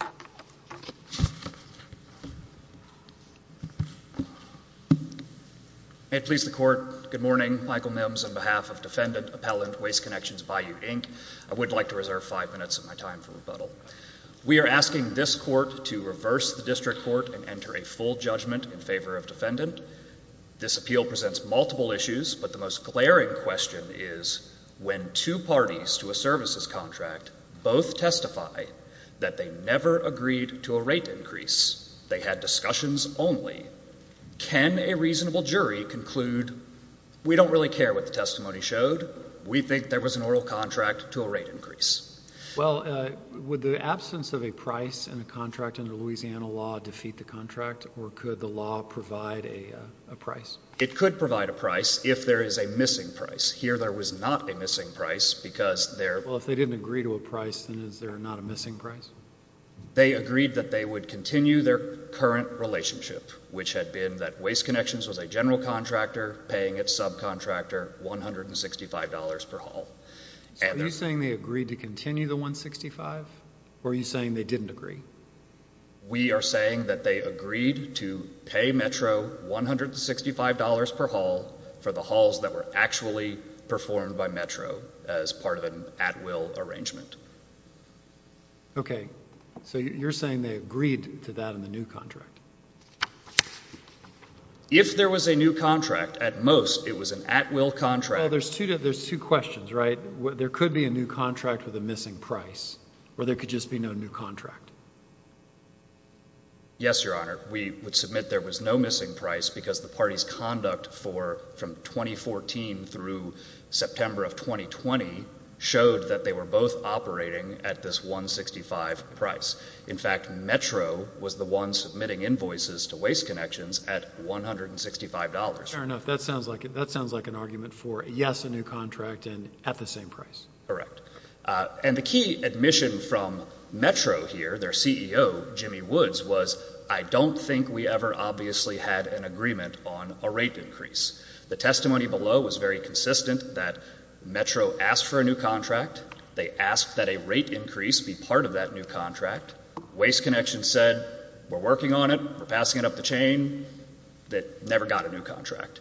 I would like to reserve 5 minutes of my time for rebuttal. We are asking this court to reverse the district court and enter a full judgment in favor of defendant. This appeal presents multiple issues, but the most glaring question is when two parties to a services contract both testify that they never agreed to a rate increase, they had discussions only, can a reasonable jury conclude, we don't really care what the testimony showed, we think there was an oral contract to a rate increase? Well, would the absence of a price in the contract under Louisiana law defeat the contract or could the law provide a price? It could provide a price if there is a missing price. Here, there was not a missing price because they agreed that they would continue their current relationship, which had been that Waste Connections was a general contractor paying its subcontractor $165 per hall. Are you saying they agreed to continue the $165 or are you saying they didn't agree? We are saying that they agreed to pay Metro $165 per hall for the halls that were actually performed by Metro as part of an at-will arrangement. Okay, so you're saying they agreed to that in the new contract? If there was a new contract, at most it was an at-will contract. Well, there's two questions, right? There could be a new contract with a missing price or there could just be no new contract. Yes, Your Honor. We would submit there was no missing price because the party's conduct from 2014 through September of 2020 showed that they were both operating at this $165 price. In fact, Metro was the one submitting invoices to Waste Connections at $165. Fair enough. That sounds like an argument for, yes, a new contract and at the same price. Correct. And the key admission from Metro here, their CEO, Jimmy Woods, was, I don't think we ever obviously had an agreement on a rate increase. The testimony below was very consistent that Metro asked for a new contract. They asked that a rate increase be part of that new contract. Waste Connections said, we're working on it, we're passing it up the chain. That never got a new contract.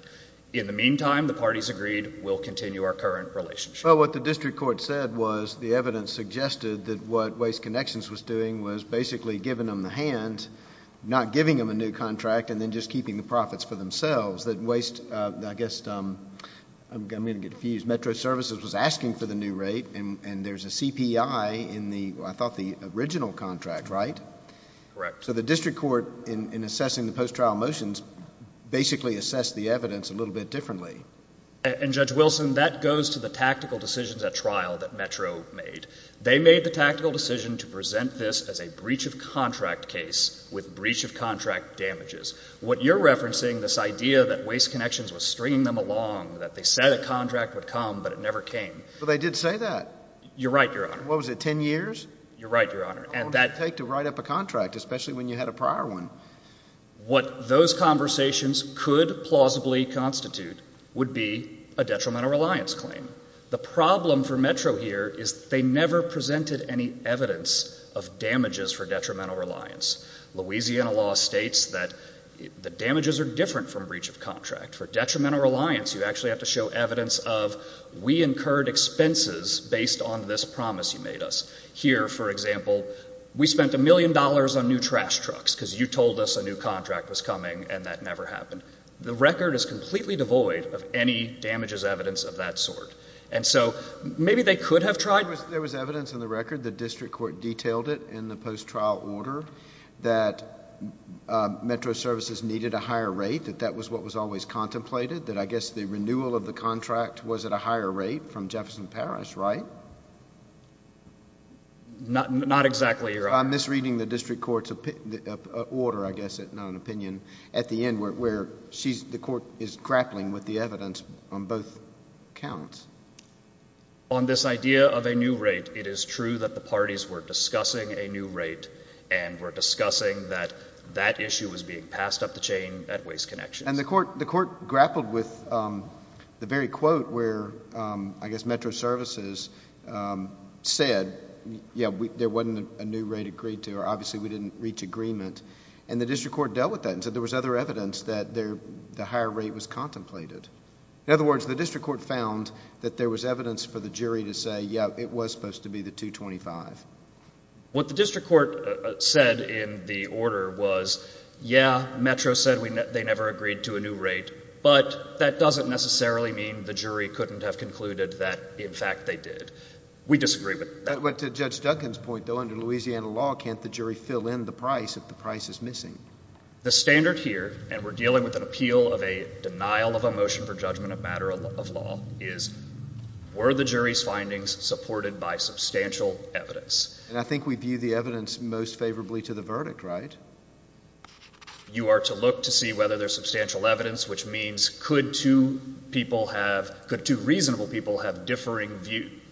In the meantime, the parties agreed, we'll continue our current relationship. Well, what the district court said was the evidence suggested that what Waste Connections was doing was basically giving them the hand, not giving them a new contract, and then just keeping the profits for themselves. That Waste, I guess, I'm going to get confused, Metro Services was asking for the new rate and there's a CPI in the, I thought the original contract, right? Correct. So the district court, in assessing the post-trial motions, basically assessed the evidence a little bit differently. And Judge Wilson, that goes to the tactical decisions at trial that Metro made. They made the tactical decision to present this as a breach of contract case with breach of contract damages. What you're referencing, this idea that Waste Connections was stringing them along, that they said a contract would come, but it never came. Well, they did say that. You're right, Your Honor. What was it, 10 years? You're right, Your Honor. How long did it take to write up a contract, especially when you had a prior one? What those conversations could plausibly constitute would be a detrimental reliance claim. The problem for Metro here is they never presented any evidence of damages for detrimental reliance. Louisiana law states that the damages are different from breach of contract. For detrimental reliance, you actually have to show evidence of, we incurred expenses based on this promise you made us. Here, for example, we spent a million dollars on new trash trucks because you told us a new contract was coming, and that never happened. The record is completely devoid of any damages evidence of that sort. And so, maybe they could have tried— There was evidence in the record, the district court detailed it in the post-trial order, that Metro services needed a higher rate, that that was what was always contemplated, that I guess the renewal of the contract was at a higher rate from Jefferson Parish, right? Not exactly, Your Honor. I'm misreading the district court's order, I guess, not an opinion, at the end where the court is grappling with the evidence on both counts. On this idea of a new rate, it is true that the parties were discussing a new rate and were discussing that that issue was being passed up the chain at Waste Connections. And the court grappled with the very quote where, I guess, Metro services said, yeah, there wasn't a new rate agreed to, or obviously we didn't reach agreement. And the district court dealt with that and said there was other evidence that the higher rate was contemplated. In other words, the district court found that there was evidence for the jury to say, yeah, it was supposed to be the 225. What the district court said in the order was, yeah, Metro said they never agreed to a new rate, but that doesn't necessarily mean the jury couldn't have concluded that, in fact, they did. We disagree with that. But to Judge Duncan's point, though, under Louisiana law, can't the jury fill in the price if the price is missing? The standard here, and we're dealing with an appeal of a denial of a motion for judgment of matter of law, is were the jury's findings supported by substantial evidence? And I think we view the evidence most favorably to the verdict, right? You are to look to see whether there's substantial evidence, which means could two reasonable people have differing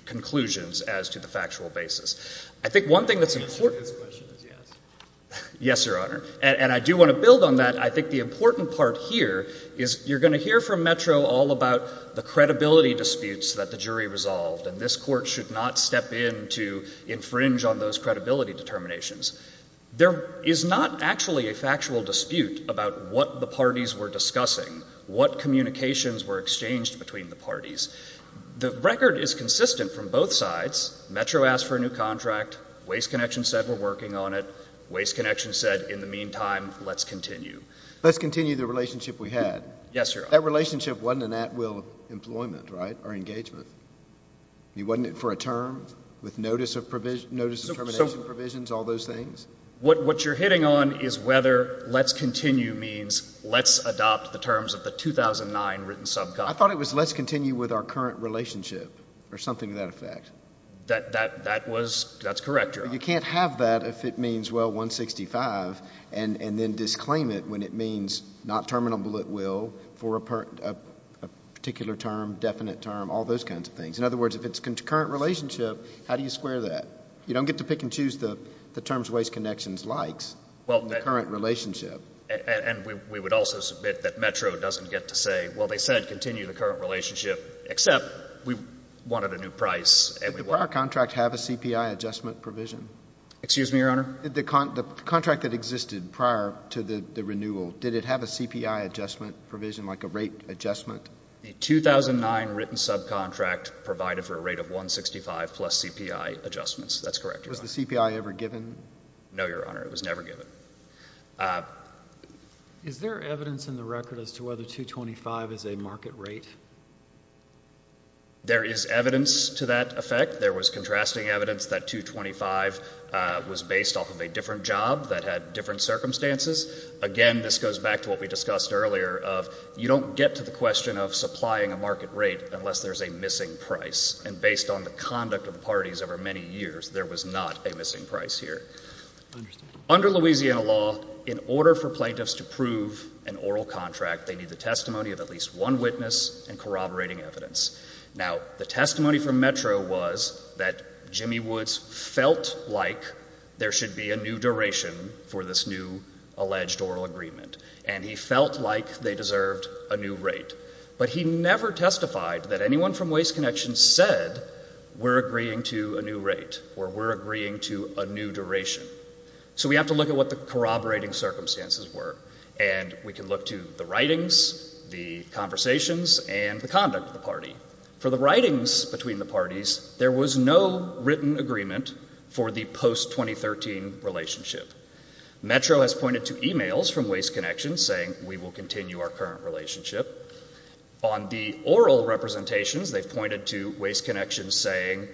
conclusions as to the factual basis. I think one thing that's important. The answer to this question is yes. Yes, Your Honor. And I do want to build on that. I think the important part here is you're going to hear from Metro all about the credibility disputes that the jury resolved, and this court should not step in to infringe on those credibility determinations. There is not actually a factual dispute about what the parties were discussing, what communications were exchanged between the parties. The record is consistent from both sides. Metro asked for a new contract. Waste Connection said we're working on it. Waste Connection said, in the meantime, let's continue. Let's continue the relationship we had. Yes, Your Honor. That relationship wasn't an at-will employment, right, or engagement. You want it for a term with notice of termination provisions, all those things? What you're hitting on is whether let's continue means let's adopt the terms of the 2009 written subcommittee. I thought it was let's continue with our current relationship or something to that effect. That was, that's correct, Your Honor. You can't have that if it means, well, 165, and then disclaim it when it means not terminable at will for a particular term, definite term, all those kinds of things. In other words, if it's a current relationship, how do you square that? You don't get to pick and choose the terms Waste Connection likes, the current relationship. We would also submit that Metro doesn't get to say, well, they said continue the current relationship, except we wanted a new price. Did the prior contract have a CPI adjustment provision? Excuse me, Your Honor? The contract that existed prior to the renewal, did it have a CPI adjustment provision, like a rate adjustment? A 2009 written subcontract provided for a rate of 165 plus CPI adjustments. That's correct, Your Honor. Was the CPI ever given? No, Your Honor. It was never given. Is there evidence in the record as to whether 225 is a market rate? There is evidence to that effect. There was contrasting evidence that 225 was based off of a different job that had different circumstances. Again, this goes back to what we discussed earlier of, you don't get to the question of supplying a market rate unless there's a missing price, and based on the conduct of the parties over many years, there was not a missing price here. Under Louisiana law, in order for plaintiffs to prove an oral contract, they need the testimony of at least one witness and corroborating evidence. Now, the testimony from Metro was that Jimmy Woods felt like there should be a new duration for this new alleged oral agreement, and he felt like they deserved a new rate, but he never testified that anyone from Waste Connection said, we're agreeing to a new rate, or we're agreeing to a new duration. So we have to look at what the corroborating circumstances were, and we can look to the conversations and the conduct of the party. For the writings between the parties, there was no written agreement for the post-2013 relationship. Metro has pointed to emails from Waste Connection saying, we will continue our current relationship. On the oral representations, they've pointed to Waste Connection saying,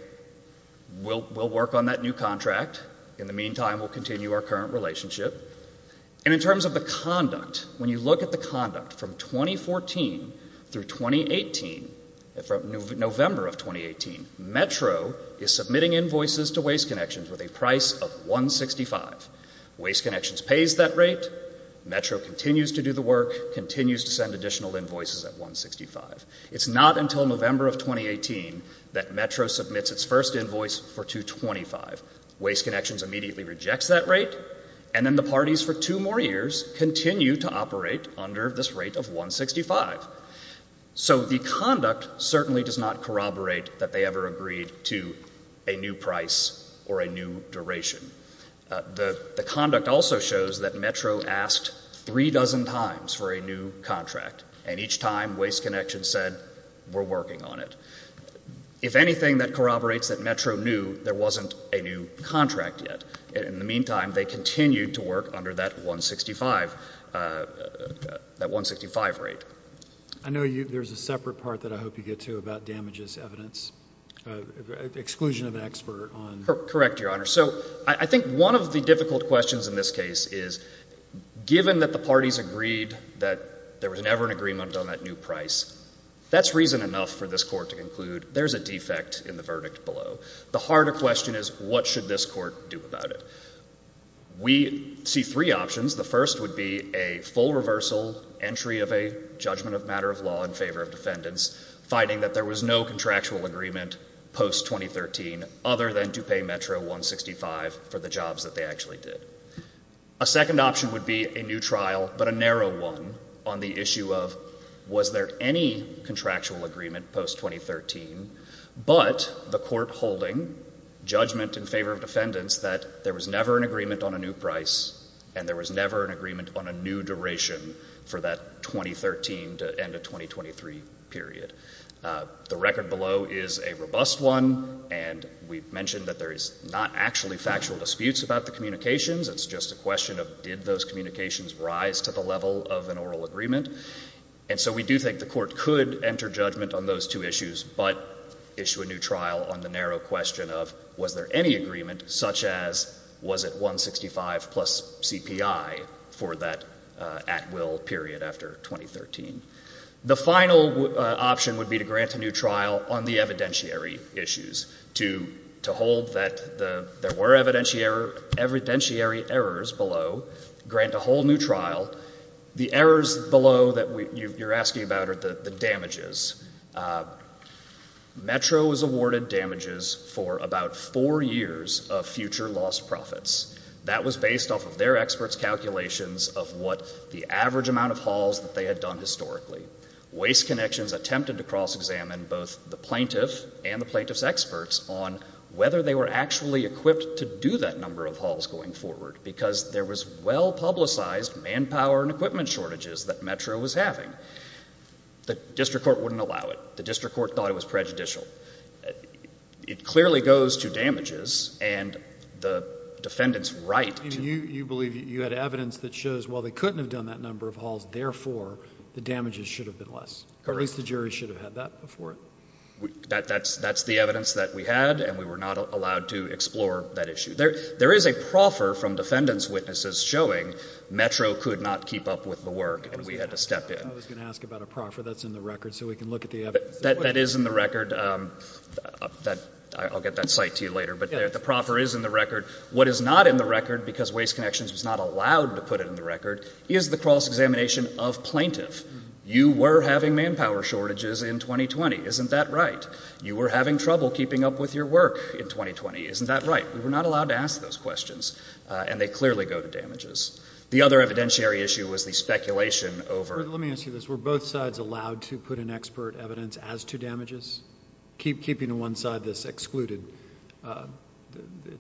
we'll work on that new contract. In the meantime, we'll continue our current relationship. And in terms of the conduct, when you look at the conduct from 2014 through 2018, November of 2018, Metro is submitting invoices to Waste Connection with a price of $165. Waste Connection pays that rate. Metro continues to do the work, continues to send additional invoices at $165. It's not until November of 2018 that Metro submits its first invoice for $225. Waste Connection immediately rejects that rate, and then the parties for two more years continue to operate under this rate of $165. So the conduct certainly does not corroborate that they ever agreed to a new price or a new duration. The conduct also shows that Metro asked three dozen times for a new contract, and each time Waste Connection said, we're working on it. If anything that corroborates that Metro knew there wasn't a new contract yet, in the meantime, they continued to work under that $165 rate. I know there's a separate part that I hope you get to about damages evidence, exclusion of an expert. Correct, Your Honor. So I think one of the difficult questions in this case is, given that the parties agreed that there was never an agreement on that new price, that's reason enough for this court to conclude there's a defect in the verdict below. The harder question is, what should this court do about it? We see three options. The first would be a full reversal entry of a judgment of matter of law in favor of defendants finding that there was no contractual agreement post-2013 other than to pay Metro $165 for the jobs that they actually did. A second option would be a new trial, but a narrow one, on the issue of was there any contractual agreement post-2013, but the court holding judgment in favor of defendants that there was never an agreement on a new price and there was never an agreement on a new duration for that 2013 to end of 2023 period. The record below is a robust one, and we mentioned that there is not actually factual disputes about the communications. It's just a question of did those communications rise to the level of an oral agreement. And so we do think the court could enter judgment on those two issues, but issue a new trial on the narrow question of was there any agreement, such as was it $165 plus CPI for that at-will period after 2013. The final option would be to grant a new trial on the evidentiary issues, to hold that there were evidentiary errors below, grant a whole new trial. The errors below that you're asking about are the damages. Metro was awarded damages for about four years of future lost profits. That was based off of their experts' calculations of what the average amount of hauls that they had done historically. Waste Connections attempted to cross-examine both the plaintiff and the plaintiff's experts on whether they were actually equipped to do that number of hauls going forward, because there was well-publicized manpower and equipment shortages that Metro was having. The district court wouldn't allow it. The district court thought it was prejudicial. It clearly goes to damages, and the defendant's right to— You believe you had evidence that shows, well, they couldn't have done that number of hauls, therefore the damages should have been less. Correct. At least the jury should have had that before. That's the evidence that we had, and we were not allowed to explore that issue. There is a proffer from defendant's witnesses showing Metro could not keep up with the work, and we had to step in. I was going to ask about a proffer that's in the record, so we can look at the evidence. That is in the record. I'll get that cite to you later, but the proffer is in the record. What is not in the record, because Waste Connections was not allowed to put it in the record, is the cross-examination of plaintiff. You were having manpower shortages in 2020, isn't that right? You were having trouble keeping up with your work in 2020, isn't that right? We were not allowed to ask those questions, and they clearly go to damages. The other evidentiary issue was the speculation over— Let me ask you this. Were both sides allowed to put in expert evidence as to damages? Keeping to one side this excluded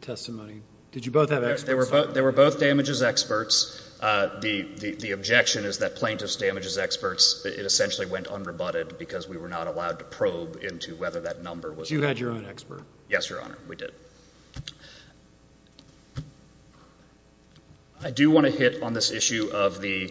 testimony, did you both have experts? They were both damages experts. The objection is that plaintiff's damages experts, it essentially went unrebutted because we were not allowed to probe into whether that number was— You had your own expert. Yes, Your Honor. We did. I do want to hit on this issue of the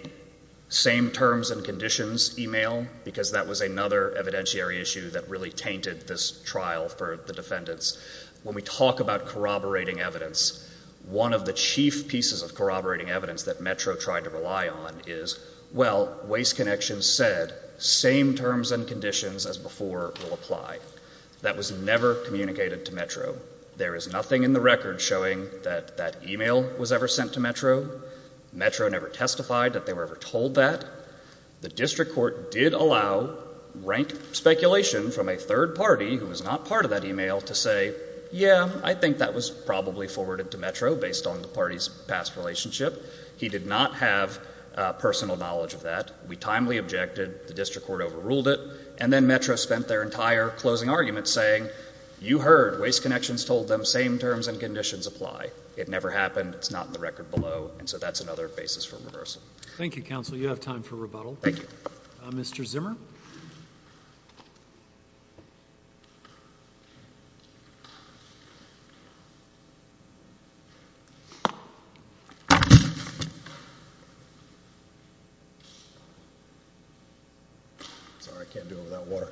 same terms and conditions email, because that was another evidentiary issue that really tainted this trial for the defendants. When we talk about corroborating evidence, one of the chief pieces of corroborating evidence that Metro tried to rely on is, well, Waste Connection said, same terms and conditions as before will apply. That was never communicated to Metro. There is nothing in the record showing that that email was ever sent to Metro. Metro never testified that they were ever told that. The district court did allow rank speculation from a third party who was not part of that to say, yeah, I think that was probably forwarded to Metro based on the party's past relationship. He did not have personal knowledge of that. We timely objected. The district court overruled it. And then Metro spent their entire closing argument saying, you heard, Waste Connections told them same terms and conditions apply. It never happened. It's not in the record below. And so that's another basis for reversal. Thank you, counsel. You have time for rebuttal. Thank you. Mr. Zimmer? Sorry, I can't do it without water.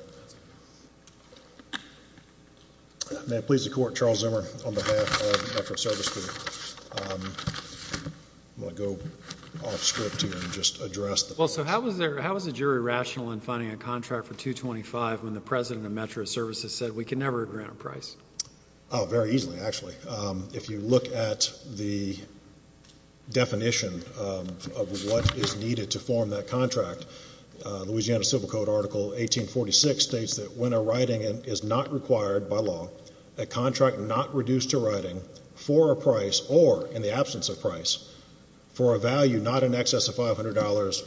May it please the court, Charles Zimmer on behalf of Metro Service Group. I'm going to go off script here and just address the point. Well, so how was the jury rational in finding a contract for 225 when the president of Metro Services said we can never grant a price? Very easily, actually. If you look at the definition of what is needed to form that contract, Louisiana Civil Code Article 1846 states that when a writing is not required by law, a contract not reduced to writing for a price or in the absence of price for a value not in excess of $500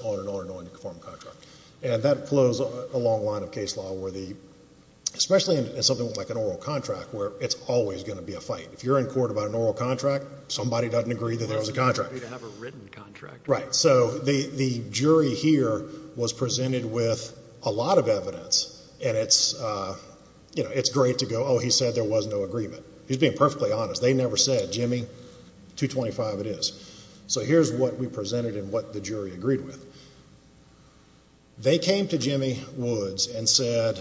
on the form of contract. And that flows along the line of case law where the, especially in something like an oral contract, where it's always going to be a fight. If you're in court about an oral contract, somebody doesn't agree that there was a contract. Well, they didn't agree to have a written contract. Right. So the jury here was presented with a lot of evidence. And it's great to go, oh, he said there was no agreement. He's being perfectly honest. They never said, Jimmy, 225 it is. So here's what we presented and what the jury agreed with. They came to Jimmy Woods and said,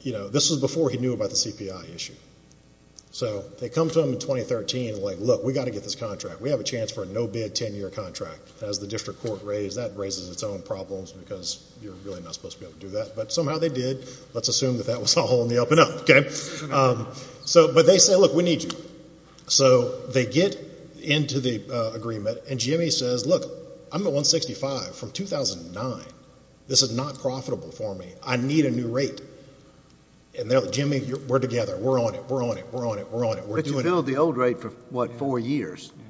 you know, this was before he knew about the CPI issue. So they come to him in 2013, like, look, we've got to get this contract. We have a chance for a no-bid 10-year contract. As the district court raised, that raises its own problems because you're really not supposed to be able to do that. But somehow they did. Let's assume that that was all in the up and up, OK? So but they say, look, we need you. So they get into the agreement. And Jimmy says, look, I'm at 165 from 2009. This is not profitable for me. I need a new rate. And they're like, Jimmy, we're together. We're on it. We're on it. We're on it. We're on it. We're doing it. But you billed the old rate for, what, four years? Correct.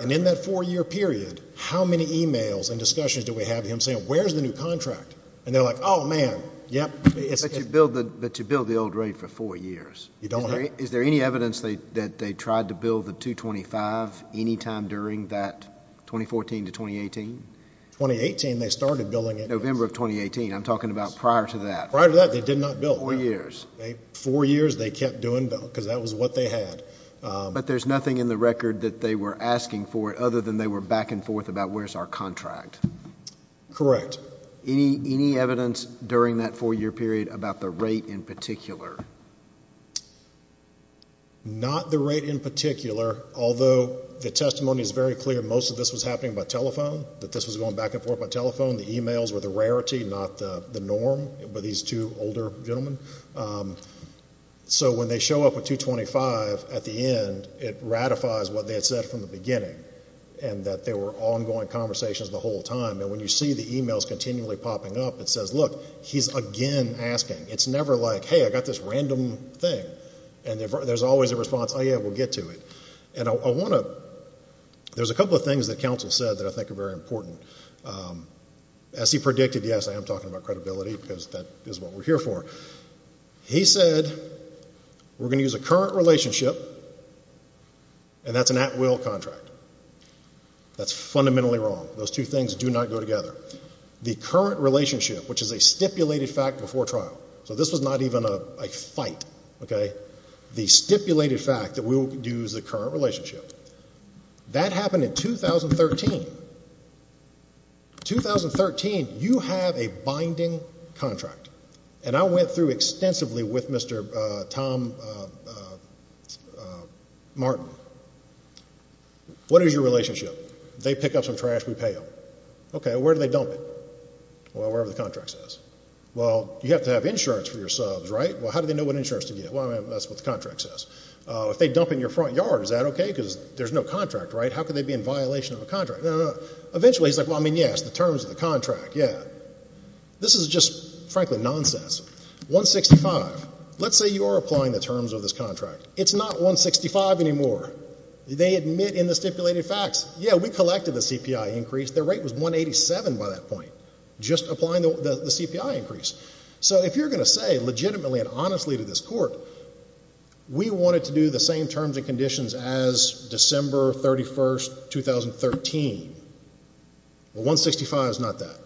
And in that four-year period, how many emails and discussions do we have of him saying, where's the new contract? And they're like, oh, man, yep. But you billed the old rate for four years. You don't have? Is there any evidence that they tried to bill the 225 any time during that 2014 to 2018? 2018, they started billing it. November of 2018. I'm talking about prior to that. Prior to that, they did not bill. Four years. Four years, they kept doing bill because that was what they had. But there's nothing in the record that they were asking for it other than they were back and forth about where's our contract. Correct. Any evidence during that four-year period about the rate in particular? Not the rate in particular, although the testimony is very clear most of this was happening by telephone, that this was going back and forth by telephone. The emails were the rarity, not the norm for these two older gentlemen. So when they show up with 225 at the end, it ratifies what they had said from the beginning and that there were ongoing conversations the whole time. And when you see the emails continually popping up, it says, look, he's again asking. It's never like, hey, I got this random thing. And there's always a response, oh, yeah, we'll get to it. And I want to, there's a couple of things that counsel said that I think are very important. As he predicted, yes, I am talking about credibility because that is what we're here for. He said, we're going to use a current relationship and that's an at-will contract. That's fundamentally wrong. Those two things do not go together. The current relationship, which is a stipulated fact before trial. So this was not even a fight, okay? The stipulated fact that we will use a current relationship. That happened in 2013. 2013, you have a binding contract. And I went through extensively with Mr. Tom Martin. What is your relationship? They pick up some trash, we pay them. Okay, where do they dump it? Well, wherever the contract says. Well, you have to have insurance for your subs, right? Well, how do they know what insurance to get? Well, that's what the contract says. If they dump in your front yard, is that okay? Because there's no contract, right? How can they be in violation of a contract? No, no, no. Eventually, he's like, well, I mean, yes, the terms of the contract, yeah. This is just, frankly, nonsense. 165, let's say you are applying the terms of this contract. It's not 165 anymore. They admit in the stipulated facts, yeah, we collected the CPI increase. Their rate was 187 by that point, just applying the CPI increase. So if you're going to say legitimately and honestly to this court, we wanted to do the same terms and conditions as December 31st, 2013. Well, 165 is not that.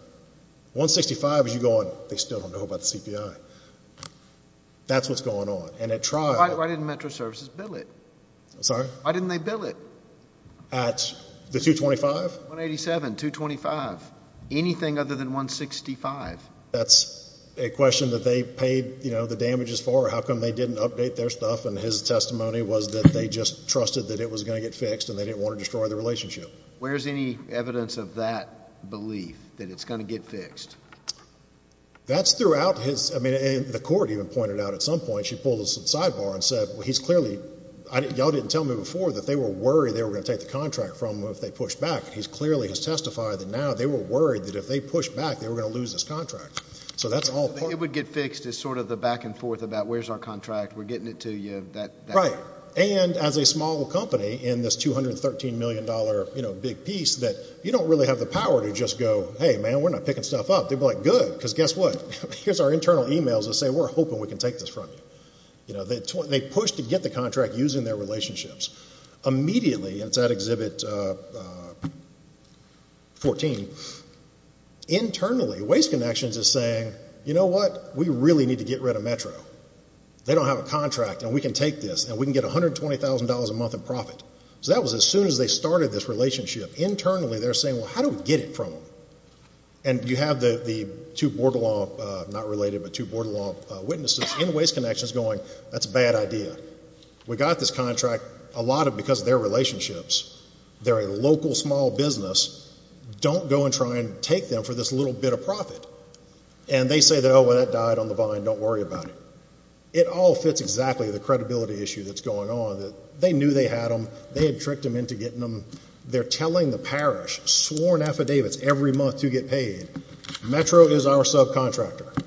165 is you going, they still don't know about the CPI. That's what's going on. And at trial- Why didn't Metro Services bill it? I'm sorry? Why didn't they bill it? At the 225? 187, 225, anything other than 165. That's a question that they paid the damages for. How come they didn't update their stuff and his testimony was that they just trusted that it was going to get fixed and they didn't want to destroy the relationship? Where's any evidence of that belief, that it's going to get fixed? That's throughout his, I mean, the court even pointed out at some point, she pulled a sidebar and said, well, he's clearly, y'all didn't tell me before that they were worried they were going to take the contract from him if they pushed back. He's clearly has testified that now they were worried that if they pushed back, they were going to lose this contract. So that's all part- It would get fixed is sort of the back and forth about where's our contract? We're getting it to you, that- Right. And as a small company in this $213 million big piece that you don't really have the power to just go, hey, man, we're not picking stuff up. They'd be like, good, because guess what? Here's our internal emails that say, we're hoping we can take this from you. They pushed to get the contract using their relationships. Immediately, and it's at Exhibit 14, internally, Waste Connections is saying, you know what? We really need to get rid of Metro. They don't have a contract and we can take this and we can get $120,000 a month in profit. So that was as soon as they started this relationship. Internally, they're saying, well, how do we get it from them? And you have the two border law- not related, but two border law witnesses in Waste Connections going, that's a bad idea. We got this contract a lot because of their relationships. They're a local small business. Don't go and try and take them for this little bit of profit. And they say that, oh, well, that died on the vine. Don't worry about it. It all fits exactly the credibility issue that's going on. They knew they had them. They had tricked them into getting them. They're telling the parish, sworn affidavits every month to get paid. Metro is our subcontractor.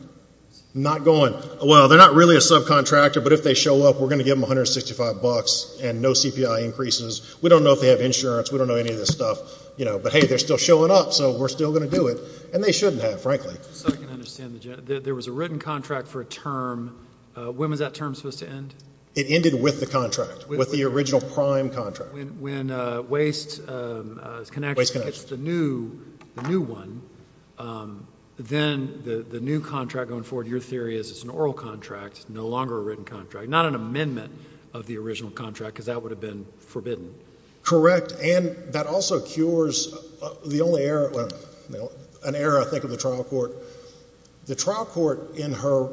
Not going, well, they're not really a subcontractor, but if they show up, we're going to give them $165 and no CPI increases. We don't know if they have insurance. We don't know any of this stuff. You know, but hey, they're still showing up. So we're still going to do it. And they shouldn't have, frankly. Just so I can understand, there was a written contract for a term. When was that term supposed to end? It ended with the contract, with the original prime contract. When Waste Connection gets the new one, then the new contract going forward, your theory is it's an oral contract, no longer a written contract. Not an amendment of the original contract, because that would have been forbidden. Correct. And that also cures the only error, an error, I think, of the trial court. The trial court in her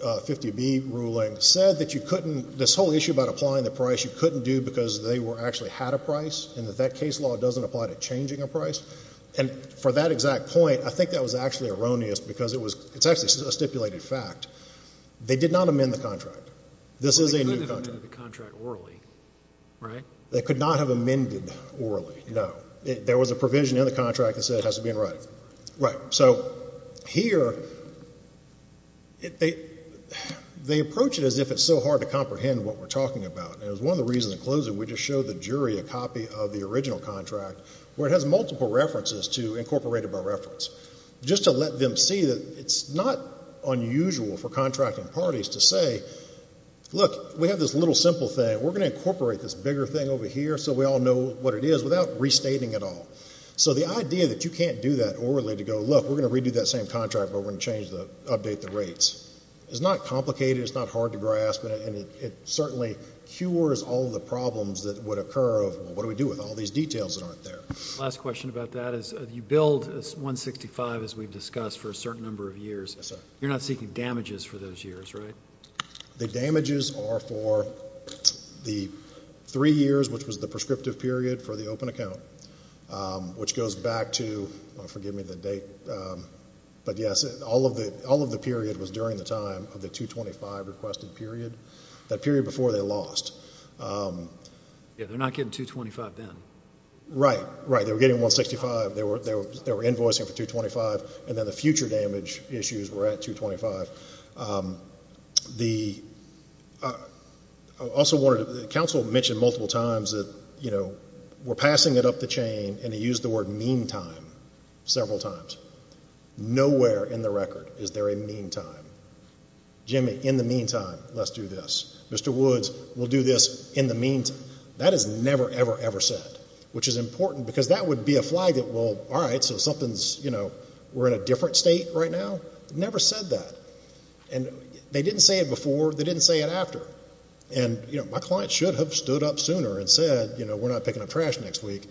50B ruling said that you couldn't, this whole issue about applying the price, you couldn't do because they actually had a price, and that that case law doesn't apply to changing a price. And for that exact point, I think that was actually erroneous, because it's actually a stipulated fact. They did not amend the contract. But they could have amended the contract orally, right? They could not have amended orally, no. There was a provision in the contract that said it has to be in writing. Right. So here, they approach it as if it's so hard to comprehend what we're talking about. And it was one of the reasons, in closing, we just showed the jury a copy of the original contract, where it has multiple references to incorporate it by reference, just to let them see that it's not unusual for contracting parties to say, look, we have this little simple thing. We're going to incorporate this bigger thing over here so we all know what it is without restating it all. So the idea that you can't do that orally to go, look, we're going to redo that same contract, but we're going to change the, update the rates. It's not complicated. It's not hard to grasp. And it certainly cures all the problems that would occur of, well, what do we do with all these details that aren't there? Last question about that is, you billed 165, as we've discussed, for a certain number of years. You're not seeking damages for those years, right? The damages are for the three years, which was the prescriptive period for the open account, which goes back to, forgive me the date, but yes, all of the period was during the time of the 225 requested period. That period before they lost. Yeah, they're not getting 225 then. Right, right. They were getting 165. They were invoicing for 225. And then the future damage issues were at 225. Council mentioned multiple times that, you know, we're passing it up the chain. And they used the word meantime several times. Nowhere in the record is there a meantime. Jimmy, in the meantime, let's do this. Mr. Woods, we'll do this in the meantime. That is never, ever, ever said. Which is important because that would be a flag that, well, all right, so something's, you know, we're in a different state right now. Never said that. And they didn't say it before. They didn't say it after. And, you know, my client should have stood up sooner and said, you know, we're not picking up trash next week.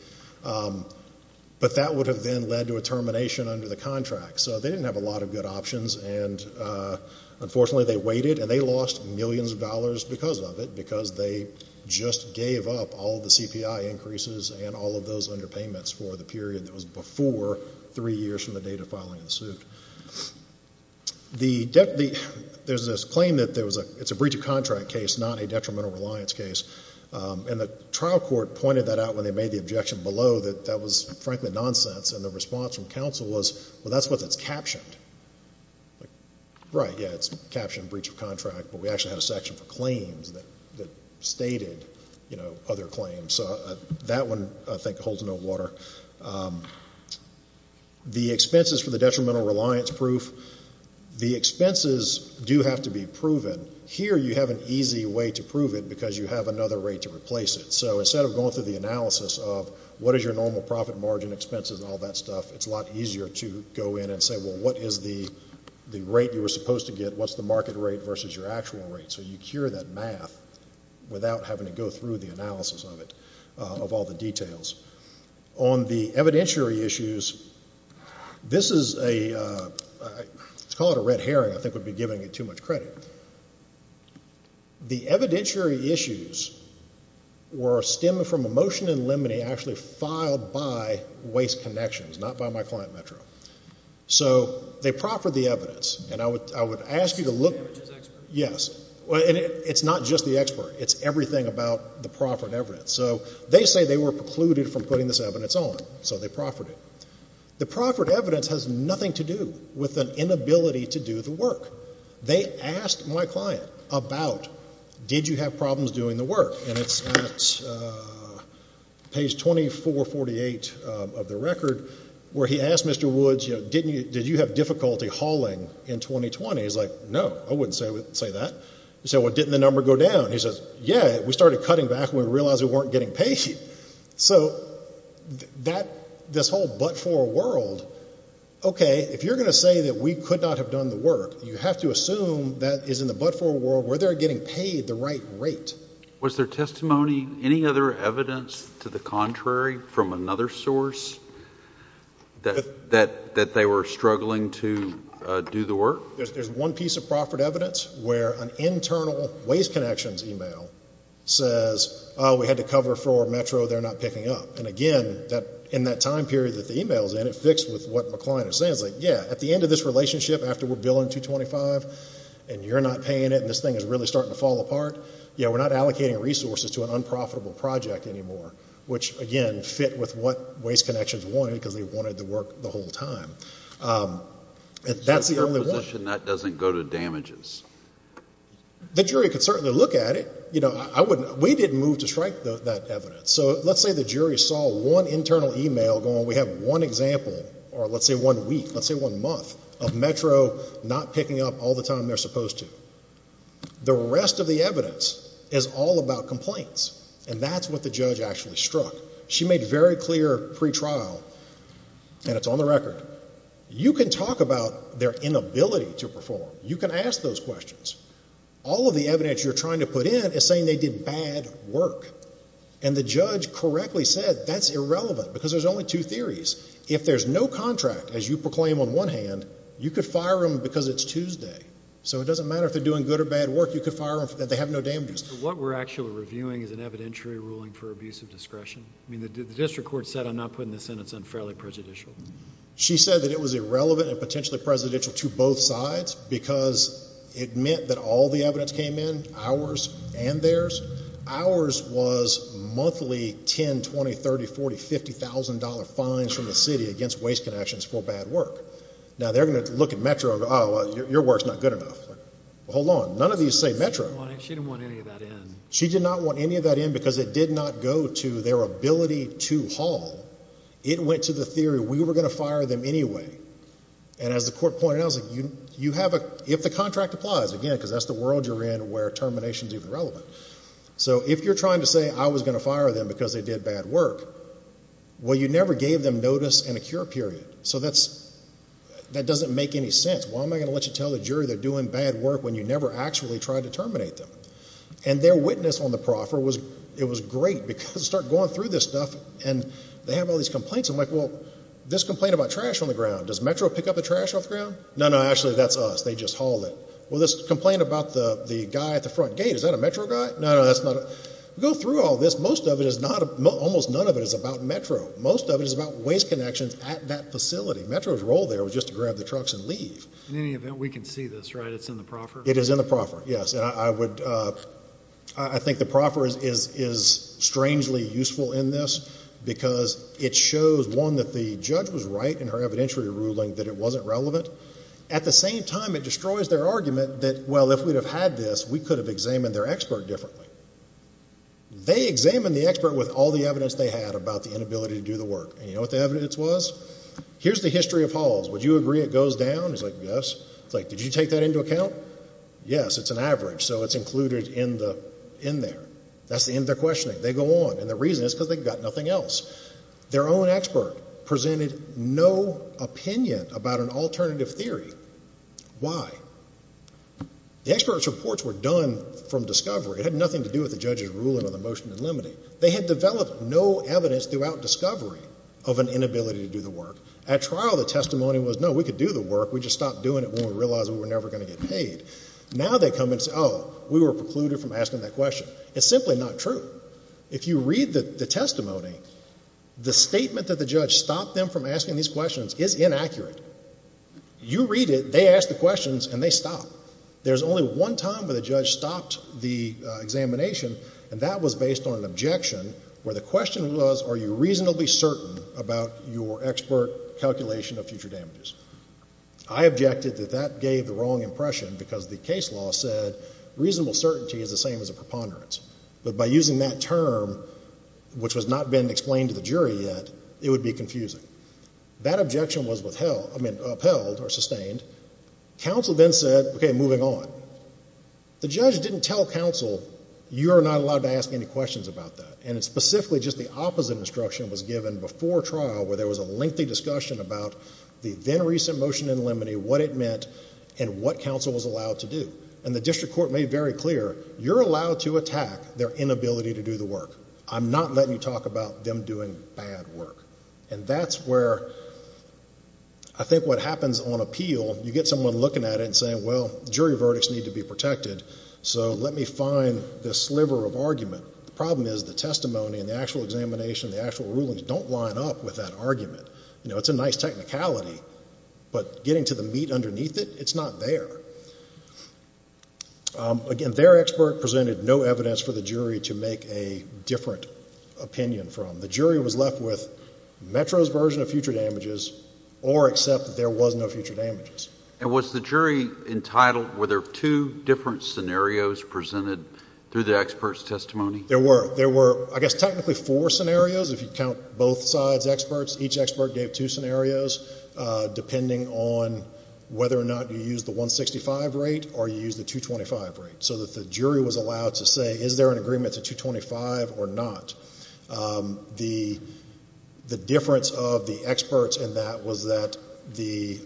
But that would have then led to a termination under the contract. So they didn't have a lot of good options. And, unfortunately, they waited. And they lost millions of dollars because of it. Because they just gave up all the CPI increases and all of those underpayments for the period that was before three years from the date of filing the suit. The debt, there's this claim that there was a, it's a breach of contract case, not a detrimental reliance case. And the trial court pointed that out when they made the objection below that that was, frankly, nonsense. And the response from counsel was, well, that's what that's captioned. Right, yeah, it's captioned breach of contract. But we actually had a section for claims that stated, you know, other claims. So that one, I think, holds no water. The expenses for the detrimental reliance proof, the expenses do have to be proven. Here, you have an easy way to prove it because you have another way to replace it. So instead of going through the analysis of what is your normal profit margin expenses and all that stuff, it's a lot easier to go in and say, well, what is the rate you were supposed to get? What's the market rate versus your actual rate? So you cure that math without having to go through the analysis of it, of all the details. On the evidentiary issues, this is a, let's call it a red herring. I think we'd be giving it too much credit. The evidentiary issues were stemming from a motion in limine actually filed by Waste Connections, not by my client, Metro. So they proffered the evidence. And I would ask you to look. The average is expert? Yes. Well, and it's not just the expert. It's everything about the proffered evidence. So they say they were precluded from putting this evidence on. So they proffered it. The proffered evidence has nothing to do with an inability to do the work. They asked my client about, did you have problems doing the work? And it's at page 2448 of the record, where he asked Mr. Woods, did you have difficulty hauling in 2020? He's like, no, I wouldn't say that. He said, well, didn't the number go down? He says, yeah, we started cutting back when we realized we weren't getting paid. So this whole but-for world, OK, if you're going to say that we could not have done the work, you have to assume that is in the but-for world, were they getting paid the right rate? Was there testimony, any other evidence to the contrary from another source that they were struggling to do the work? There's one piece of proffered evidence where an internal Ways Connections email says, oh, we had to cover for Metro. They're not picking up. And again, in that time period that the email's in, it fits with what my client is saying. It's like, yeah, at the end of this relationship, after we're billing 225, and you're not paying it, and this thing is really starting to fall apart, you know, we're not allocating resources to an unprofitable project anymore, which, again, fit with what Ways Connections wanted, because they wanted the work the whole time. And that's the only one. So in their position, that doesn't go to damages? The jury could certainly look at it. You know, I wouldn't, we didn't move to strike that evidence. So let's say the jury saw one internal email going, we have one example, or let's say one week, let's say one month, of Metro not picking up all the time they're supposed to. The rest of the evidence is all about complaints. And that's what the judge actually struck. She made very clear pre-trial, and it's on the record, you can talk about their inability to perform. You can ask those questions. All of the evidence you're trying to put in is saying they did bad work. And the judge correctly said that's irrelevant, because there's only two theories. If there's no contract, as you proclaim on one hand, you could fire them because it's Tuesday. So it doesn't matter if they're doing good or bad work. You could fire them if they have no damages. What we're actually reviewing is an evidentiary ruling for abusive discretion. I mean, the district court said I'm not putting this in. It's unfairly prejudicial. She said that it was irrelevant and potentially presidential to both sides, because it meant that all the evidence came in, ours and theirs. Ours was monthly 10, 20, 30, 40, $50,000 fines from the city against waste connections for bad work. Now, they're going to look at Metro and go, oh, your work's not good enough. Hold on. None of these say Metro. She didn't want any of that in. She did not want any of that in, because it did not go to their ability to haul. It went to the theory we were going to fire them anyway. And as the court pointed out, if the contract applies, again, because that's the world you're in where termination is irrelevant. So if you're trying to say I was going to fire them because they did bad work, well, you never gave them notice and a cure period. So that doesn't make any sense. Why am I going to let you tell the jury they're doing bad work when you never actually tried to terminate them? And their witness on the proffer, it was great, because they start going through this stuff and they have all these complaints. I'm like, well, this complaint about trash on the ground, does Metro pick up the trash off the ground? No, no, actually, that's us. They just hauled it. Well, this complaint about the guy at the front gate, is that a Metro guy? No, no, that's not. We go through all this. Most of it is not, almost none of it is about Metro. Most of it is about waste connections at that facility. Metro's role there was just to grab the trucks and leave. In any event, we can see this, right? It's in the proffer? It is in the proffer, yes. And I would, I think the proffer is strangely useful in this, because it shows, one, that the judge was right in her evidentiary ruling that it wasn't relevant. At the same time, it destroys their argument that, well, if we'd have had this, we could have examined their expert differently. They examined the expert with all the evidence they had about the inability to do the work. And you know what the evidence was? Here's the history of hauls. Would you agree it goes down? He's like, yes. It's like, did you take that into account? Yes, it's an average. So it's included in there. That's the end of their questioning. They go on. And the reason is because they've got nothing else. Their own expert presented no opinion about an alternative theory. Why? The expert's reports were done from discovery. It had nothing to do with the judge's ruling on the motion to eliminate. They had developed no evidence throughout discovery of an inability to do the work. At trial, the testimony was, no, we could do the work. We just stopped doing it when we realized we were never going to get paid. Now they come and say, oh, we were precluded from asking that question. It's simply not true. If you read the testimony, the statement that the judge stopped them from asking these questions is inaccurate. You read it, they ask the questions, and they stop. There's only one time where the judge stopped the examination, and that was based on an objection where the question was, are you reasonably certain about your expert calculation of future damages? I objected that that gave the wrong impression because the case law said reasonable certainty is the same as a preponderance. But by using that term, which has not been explained to the jury yet, it would be confusing. That objection was upheld or sustained. Counsel then said, OK, moving on. The judge didn't tell counsel, you are not allowed to ask any questions about that. And it's specifically just the opposite instruction was given before trial where there was a lengthy discussion about the then-recent motion in limine what it meant and what counsel was allowed to do. And the district court made very clear, you're allowed to attack their inability to do the work. I'm not letting you talk about them doing bad work. And that's where I think what happens on appeal, you get someone looking at it and saying, well, jury verdicts need to be protected, so let me find the sliver of argument. The problem is the testimony and the actual examination, the actual rulings don't line up with that argument. You know, it's a nice technicality, but getting to the meat underneath it, it's not there. Again, their expert presented no evidence for the jury to make a different opinion from. The jury was left with Metro's version of future damages or accept that there was no future damages. And was the jury entitled, were there two different scenarios presented through the expert's testimony? There were. There were, I guess, technically four scenarios if you count both sides' experts. Each expert gave two scenarios, depending on whether or not you use the 165 rate or you use the 225 rate, so that the jury was allowed to say, is there an agreement to 225 or not? The difference of the experts in that was that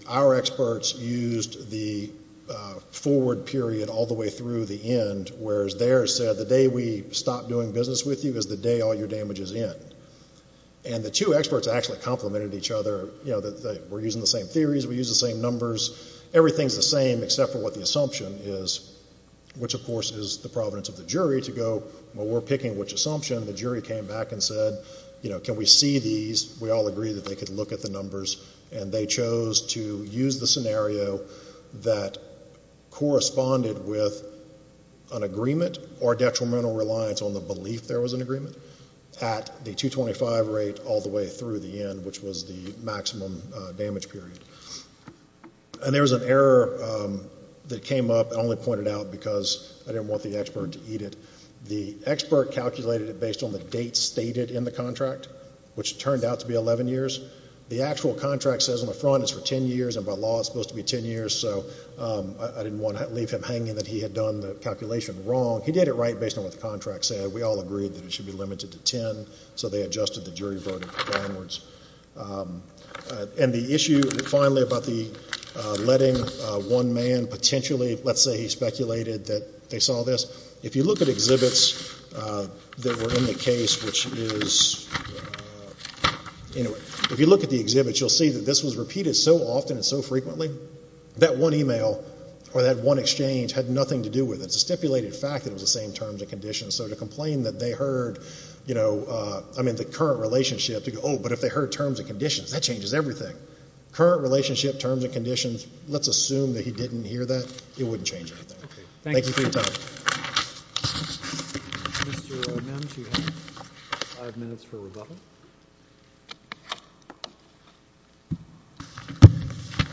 our experts used the forward period all the way through the end, whereas theirs said, the day we stop doing business with you is the day all your damage is in. And the two experts actually complemented each other. You know, we're using the same theories. We use the same numbers. Everything's the same except for what the assumption is, which, of course, is the providence of the jury to go, well, we're picking which assumption. The jury came back and said, you know, can we see these? We all agreed that they could look at the numbers. And they chose to use the scenario that corresponded with an agreement or detrimental reliance on the belief there was an agreement at the 225 rate all the way through the end, which was the maximum damage period. And there was an error that came up. I only pointed it out because I didn't want the expert to eat it. The expert calculated it based on the date stated in the contract, which turned out to be 11 years. The actual contract says on the front it's for 10 years. And by law, it's supposed to be 10 years. So I didn't want to leave him hanging that he had done the calculation wrong. He did it right based on what the contract said. We all agreed that it should be limited to 10. So they adjusted the jury voting downwards. And the issue, finally, about the letting one man potentially, let's say he speculated that they saw this. If you look at exhibits that were in the case, which is, anyway, if you look at the exhibits, you'll see that this was repeated so often and so frequently that one email or that one exchange had nothing to do with it. It's a stipulated fact that it was the same terms and conditions. So to complain that they heard, you know, I mean, the current relationship to go, oh, but if they heard terms and conditions, that changes everything. Current relationship, terms and conditions, let's assume that he didn't hear that. It wouldn't change anything. Thank you for your time. Mr. O'Mim, do you have five minutes for rebuttal?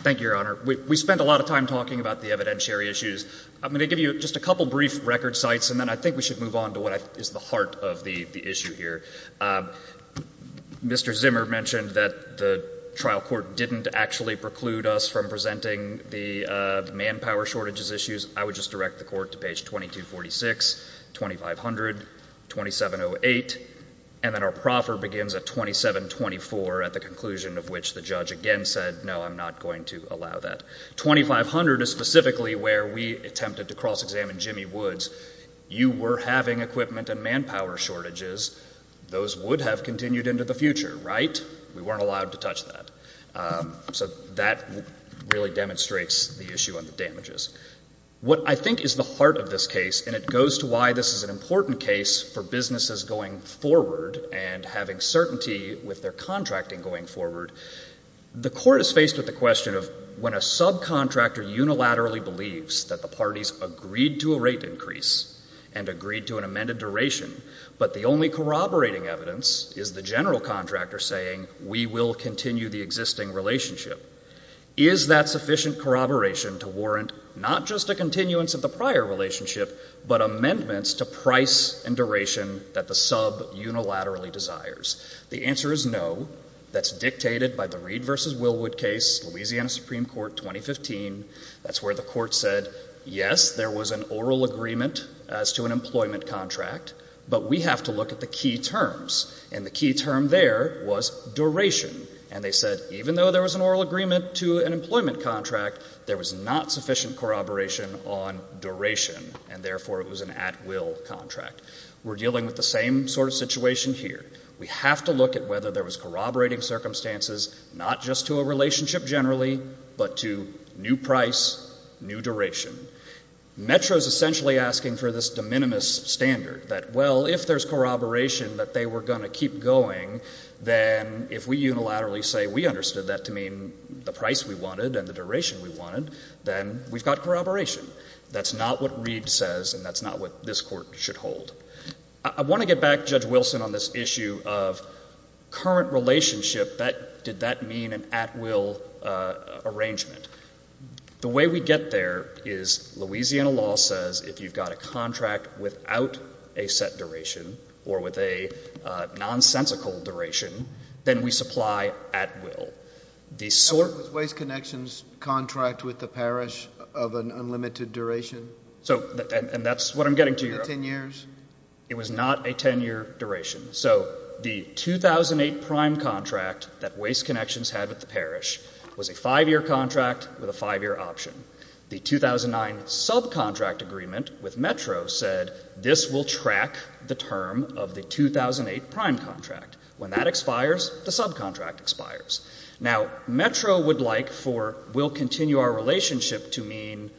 Thank you, Your Honor. We spent a lot of time talking about the evidentiary issues. I'm going to give you just a couple brief record sites, and then I think we should move on to what is the heart of the issue here. Mr. Zimmer mentioned that the trial court didn't actually preclude us from presenting the manpower shortages issues. I would just direct the court to page 2246, 2500, 2708, and then our proffer begins at 2724 at the conclusion of which the judge again said, no, I'm not going to allow that. 2500 is specifically where we attempted to cross-examine Jimmy Woods. You were having equipment and manpower shortages. Those would have continued into the future, right? We weren't allowed to touch that. So that really demonstrates the issue on the damages. What I think is the heart of this case, and it goes to why this is an important case for businesses going forward and having certainty with their contracting going forward, the court is faced with the question of when a subcontractor unilaterally believes that the parties agreed to a rate increase and agreed to an amended duration, but the only corroborating evidence is the general contractor saying, we will continue the existing relationship. Is that sufficient corroboration to warrant not just a continuance of the prior relationship, but amendments to price and duration that the sub unilaterally desires? The answer is no. That's dictated by the Reed v. Wilwood case, Louisiana Supreme Court, 2015. That's where the court said, yes, there was an oral agreement as to an employment contract, but we have to look at the key terms. And the key term there was duration. And they said, even though there was an oral agreement to an employment contract, there was not sufficient corroboration on duration, and therefore it was an at-will contract. We're dealing with the same sort of situation here. We have to look at whether there was corroborating circumstances, not just to a relationship generally, but to new price, new duration. Metro's essentially asking for this de minimis standard that, well, if there's corroboration that they were going to keep going, then if we unilaterally say we understood that to mean the price we wanted and the duration we wanted, then we've got corroboration. That's not what Reed says, and that's not what this court should hold. I want to get back, Judge Wilson, on this issue of current relationship, that did that mean an at-will arrangement? The way we get there is Louisiana law says if you've got a contract without a set duration or with a nonsensical duration, then we supply at-will. The sort— Was Waste Connections' contract with the parish of an unlimited duration? So, and that's what I'm getting to here— In the 10 years? It was not a 10-year duration. So the 2008 prime contract that Waste Connections had with the parish was a five-year contract with a five-year option. The 2009 subcontract agreement with Metro said this will track the term of the 2008 prime contract. When that expires, the subcontract expires. Now, Metro would like for we'll continue our relationship to mean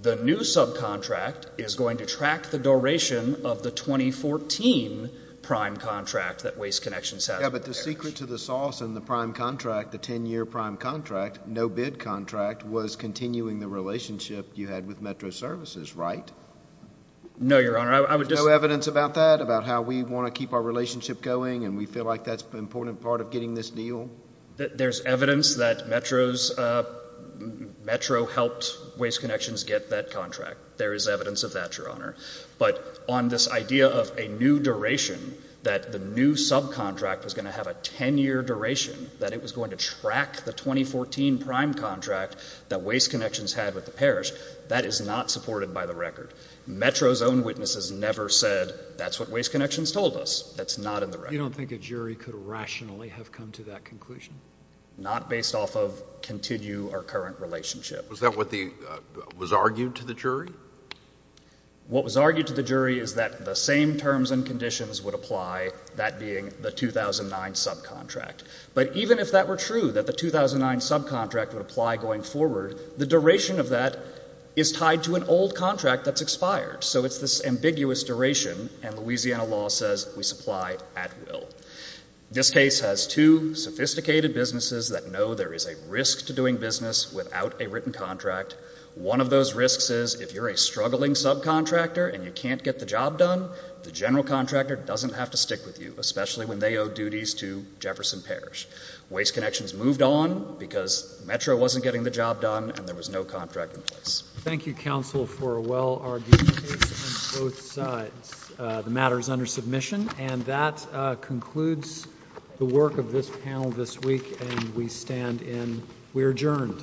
the new subcontract is going to track the duration of the 2014 prime contract that Waste Connections has with the parish. Yeah, but the secret to the sauce in the prime contract, the 10-year prime contract, no-bid contract, was continuing the relationship you had with Metro Services, right? No, Your Honor, I would just— No evidence about that? About how we want to keep our relationship going and we feel like that's an important part of getting this deal? There's evidence that Metro helped Waste Connections get that contract. There is evidence of that, Your Honor. But on this idea of a new duration, that the new subcontract was going to have a 10-year duration, that it was going to track the 2014 prime contract that Waste Connections had with the parish, that is not supported by the record. Metro's own witnesses never said, that's what Waste Connections told us. That's not in the record. You don't think a jury could rationally have come to that conclusion? Not based off of continue our current relationship. Was that what was argued to the jury? What was argued to the jury is that the same terms and conditions would apply, that being the 2009 subcontract. But even if that were true, that the 2009 subcontract would apply going forward, the duration of that is tied to an old contract that's expired. So it's this ambiguous duration, and Louisiana law says we supply at will. This case has two sophisticated businesses that know there is a risk to doing business without a written contract. One of those risks is if you're a struggling subcontractor and you can't get the job done, the general contractor doesn't have to stick with you, especially when they owe duties to Jefferson Parish. Waste Connections moved on because Metro wasn't getting the job done and there was no contract in place. Thank you, counsel, for a well-argued case on both sides. The matter is under submission, and that concludes the work of this panel this week, and we stand in. We're adjourned.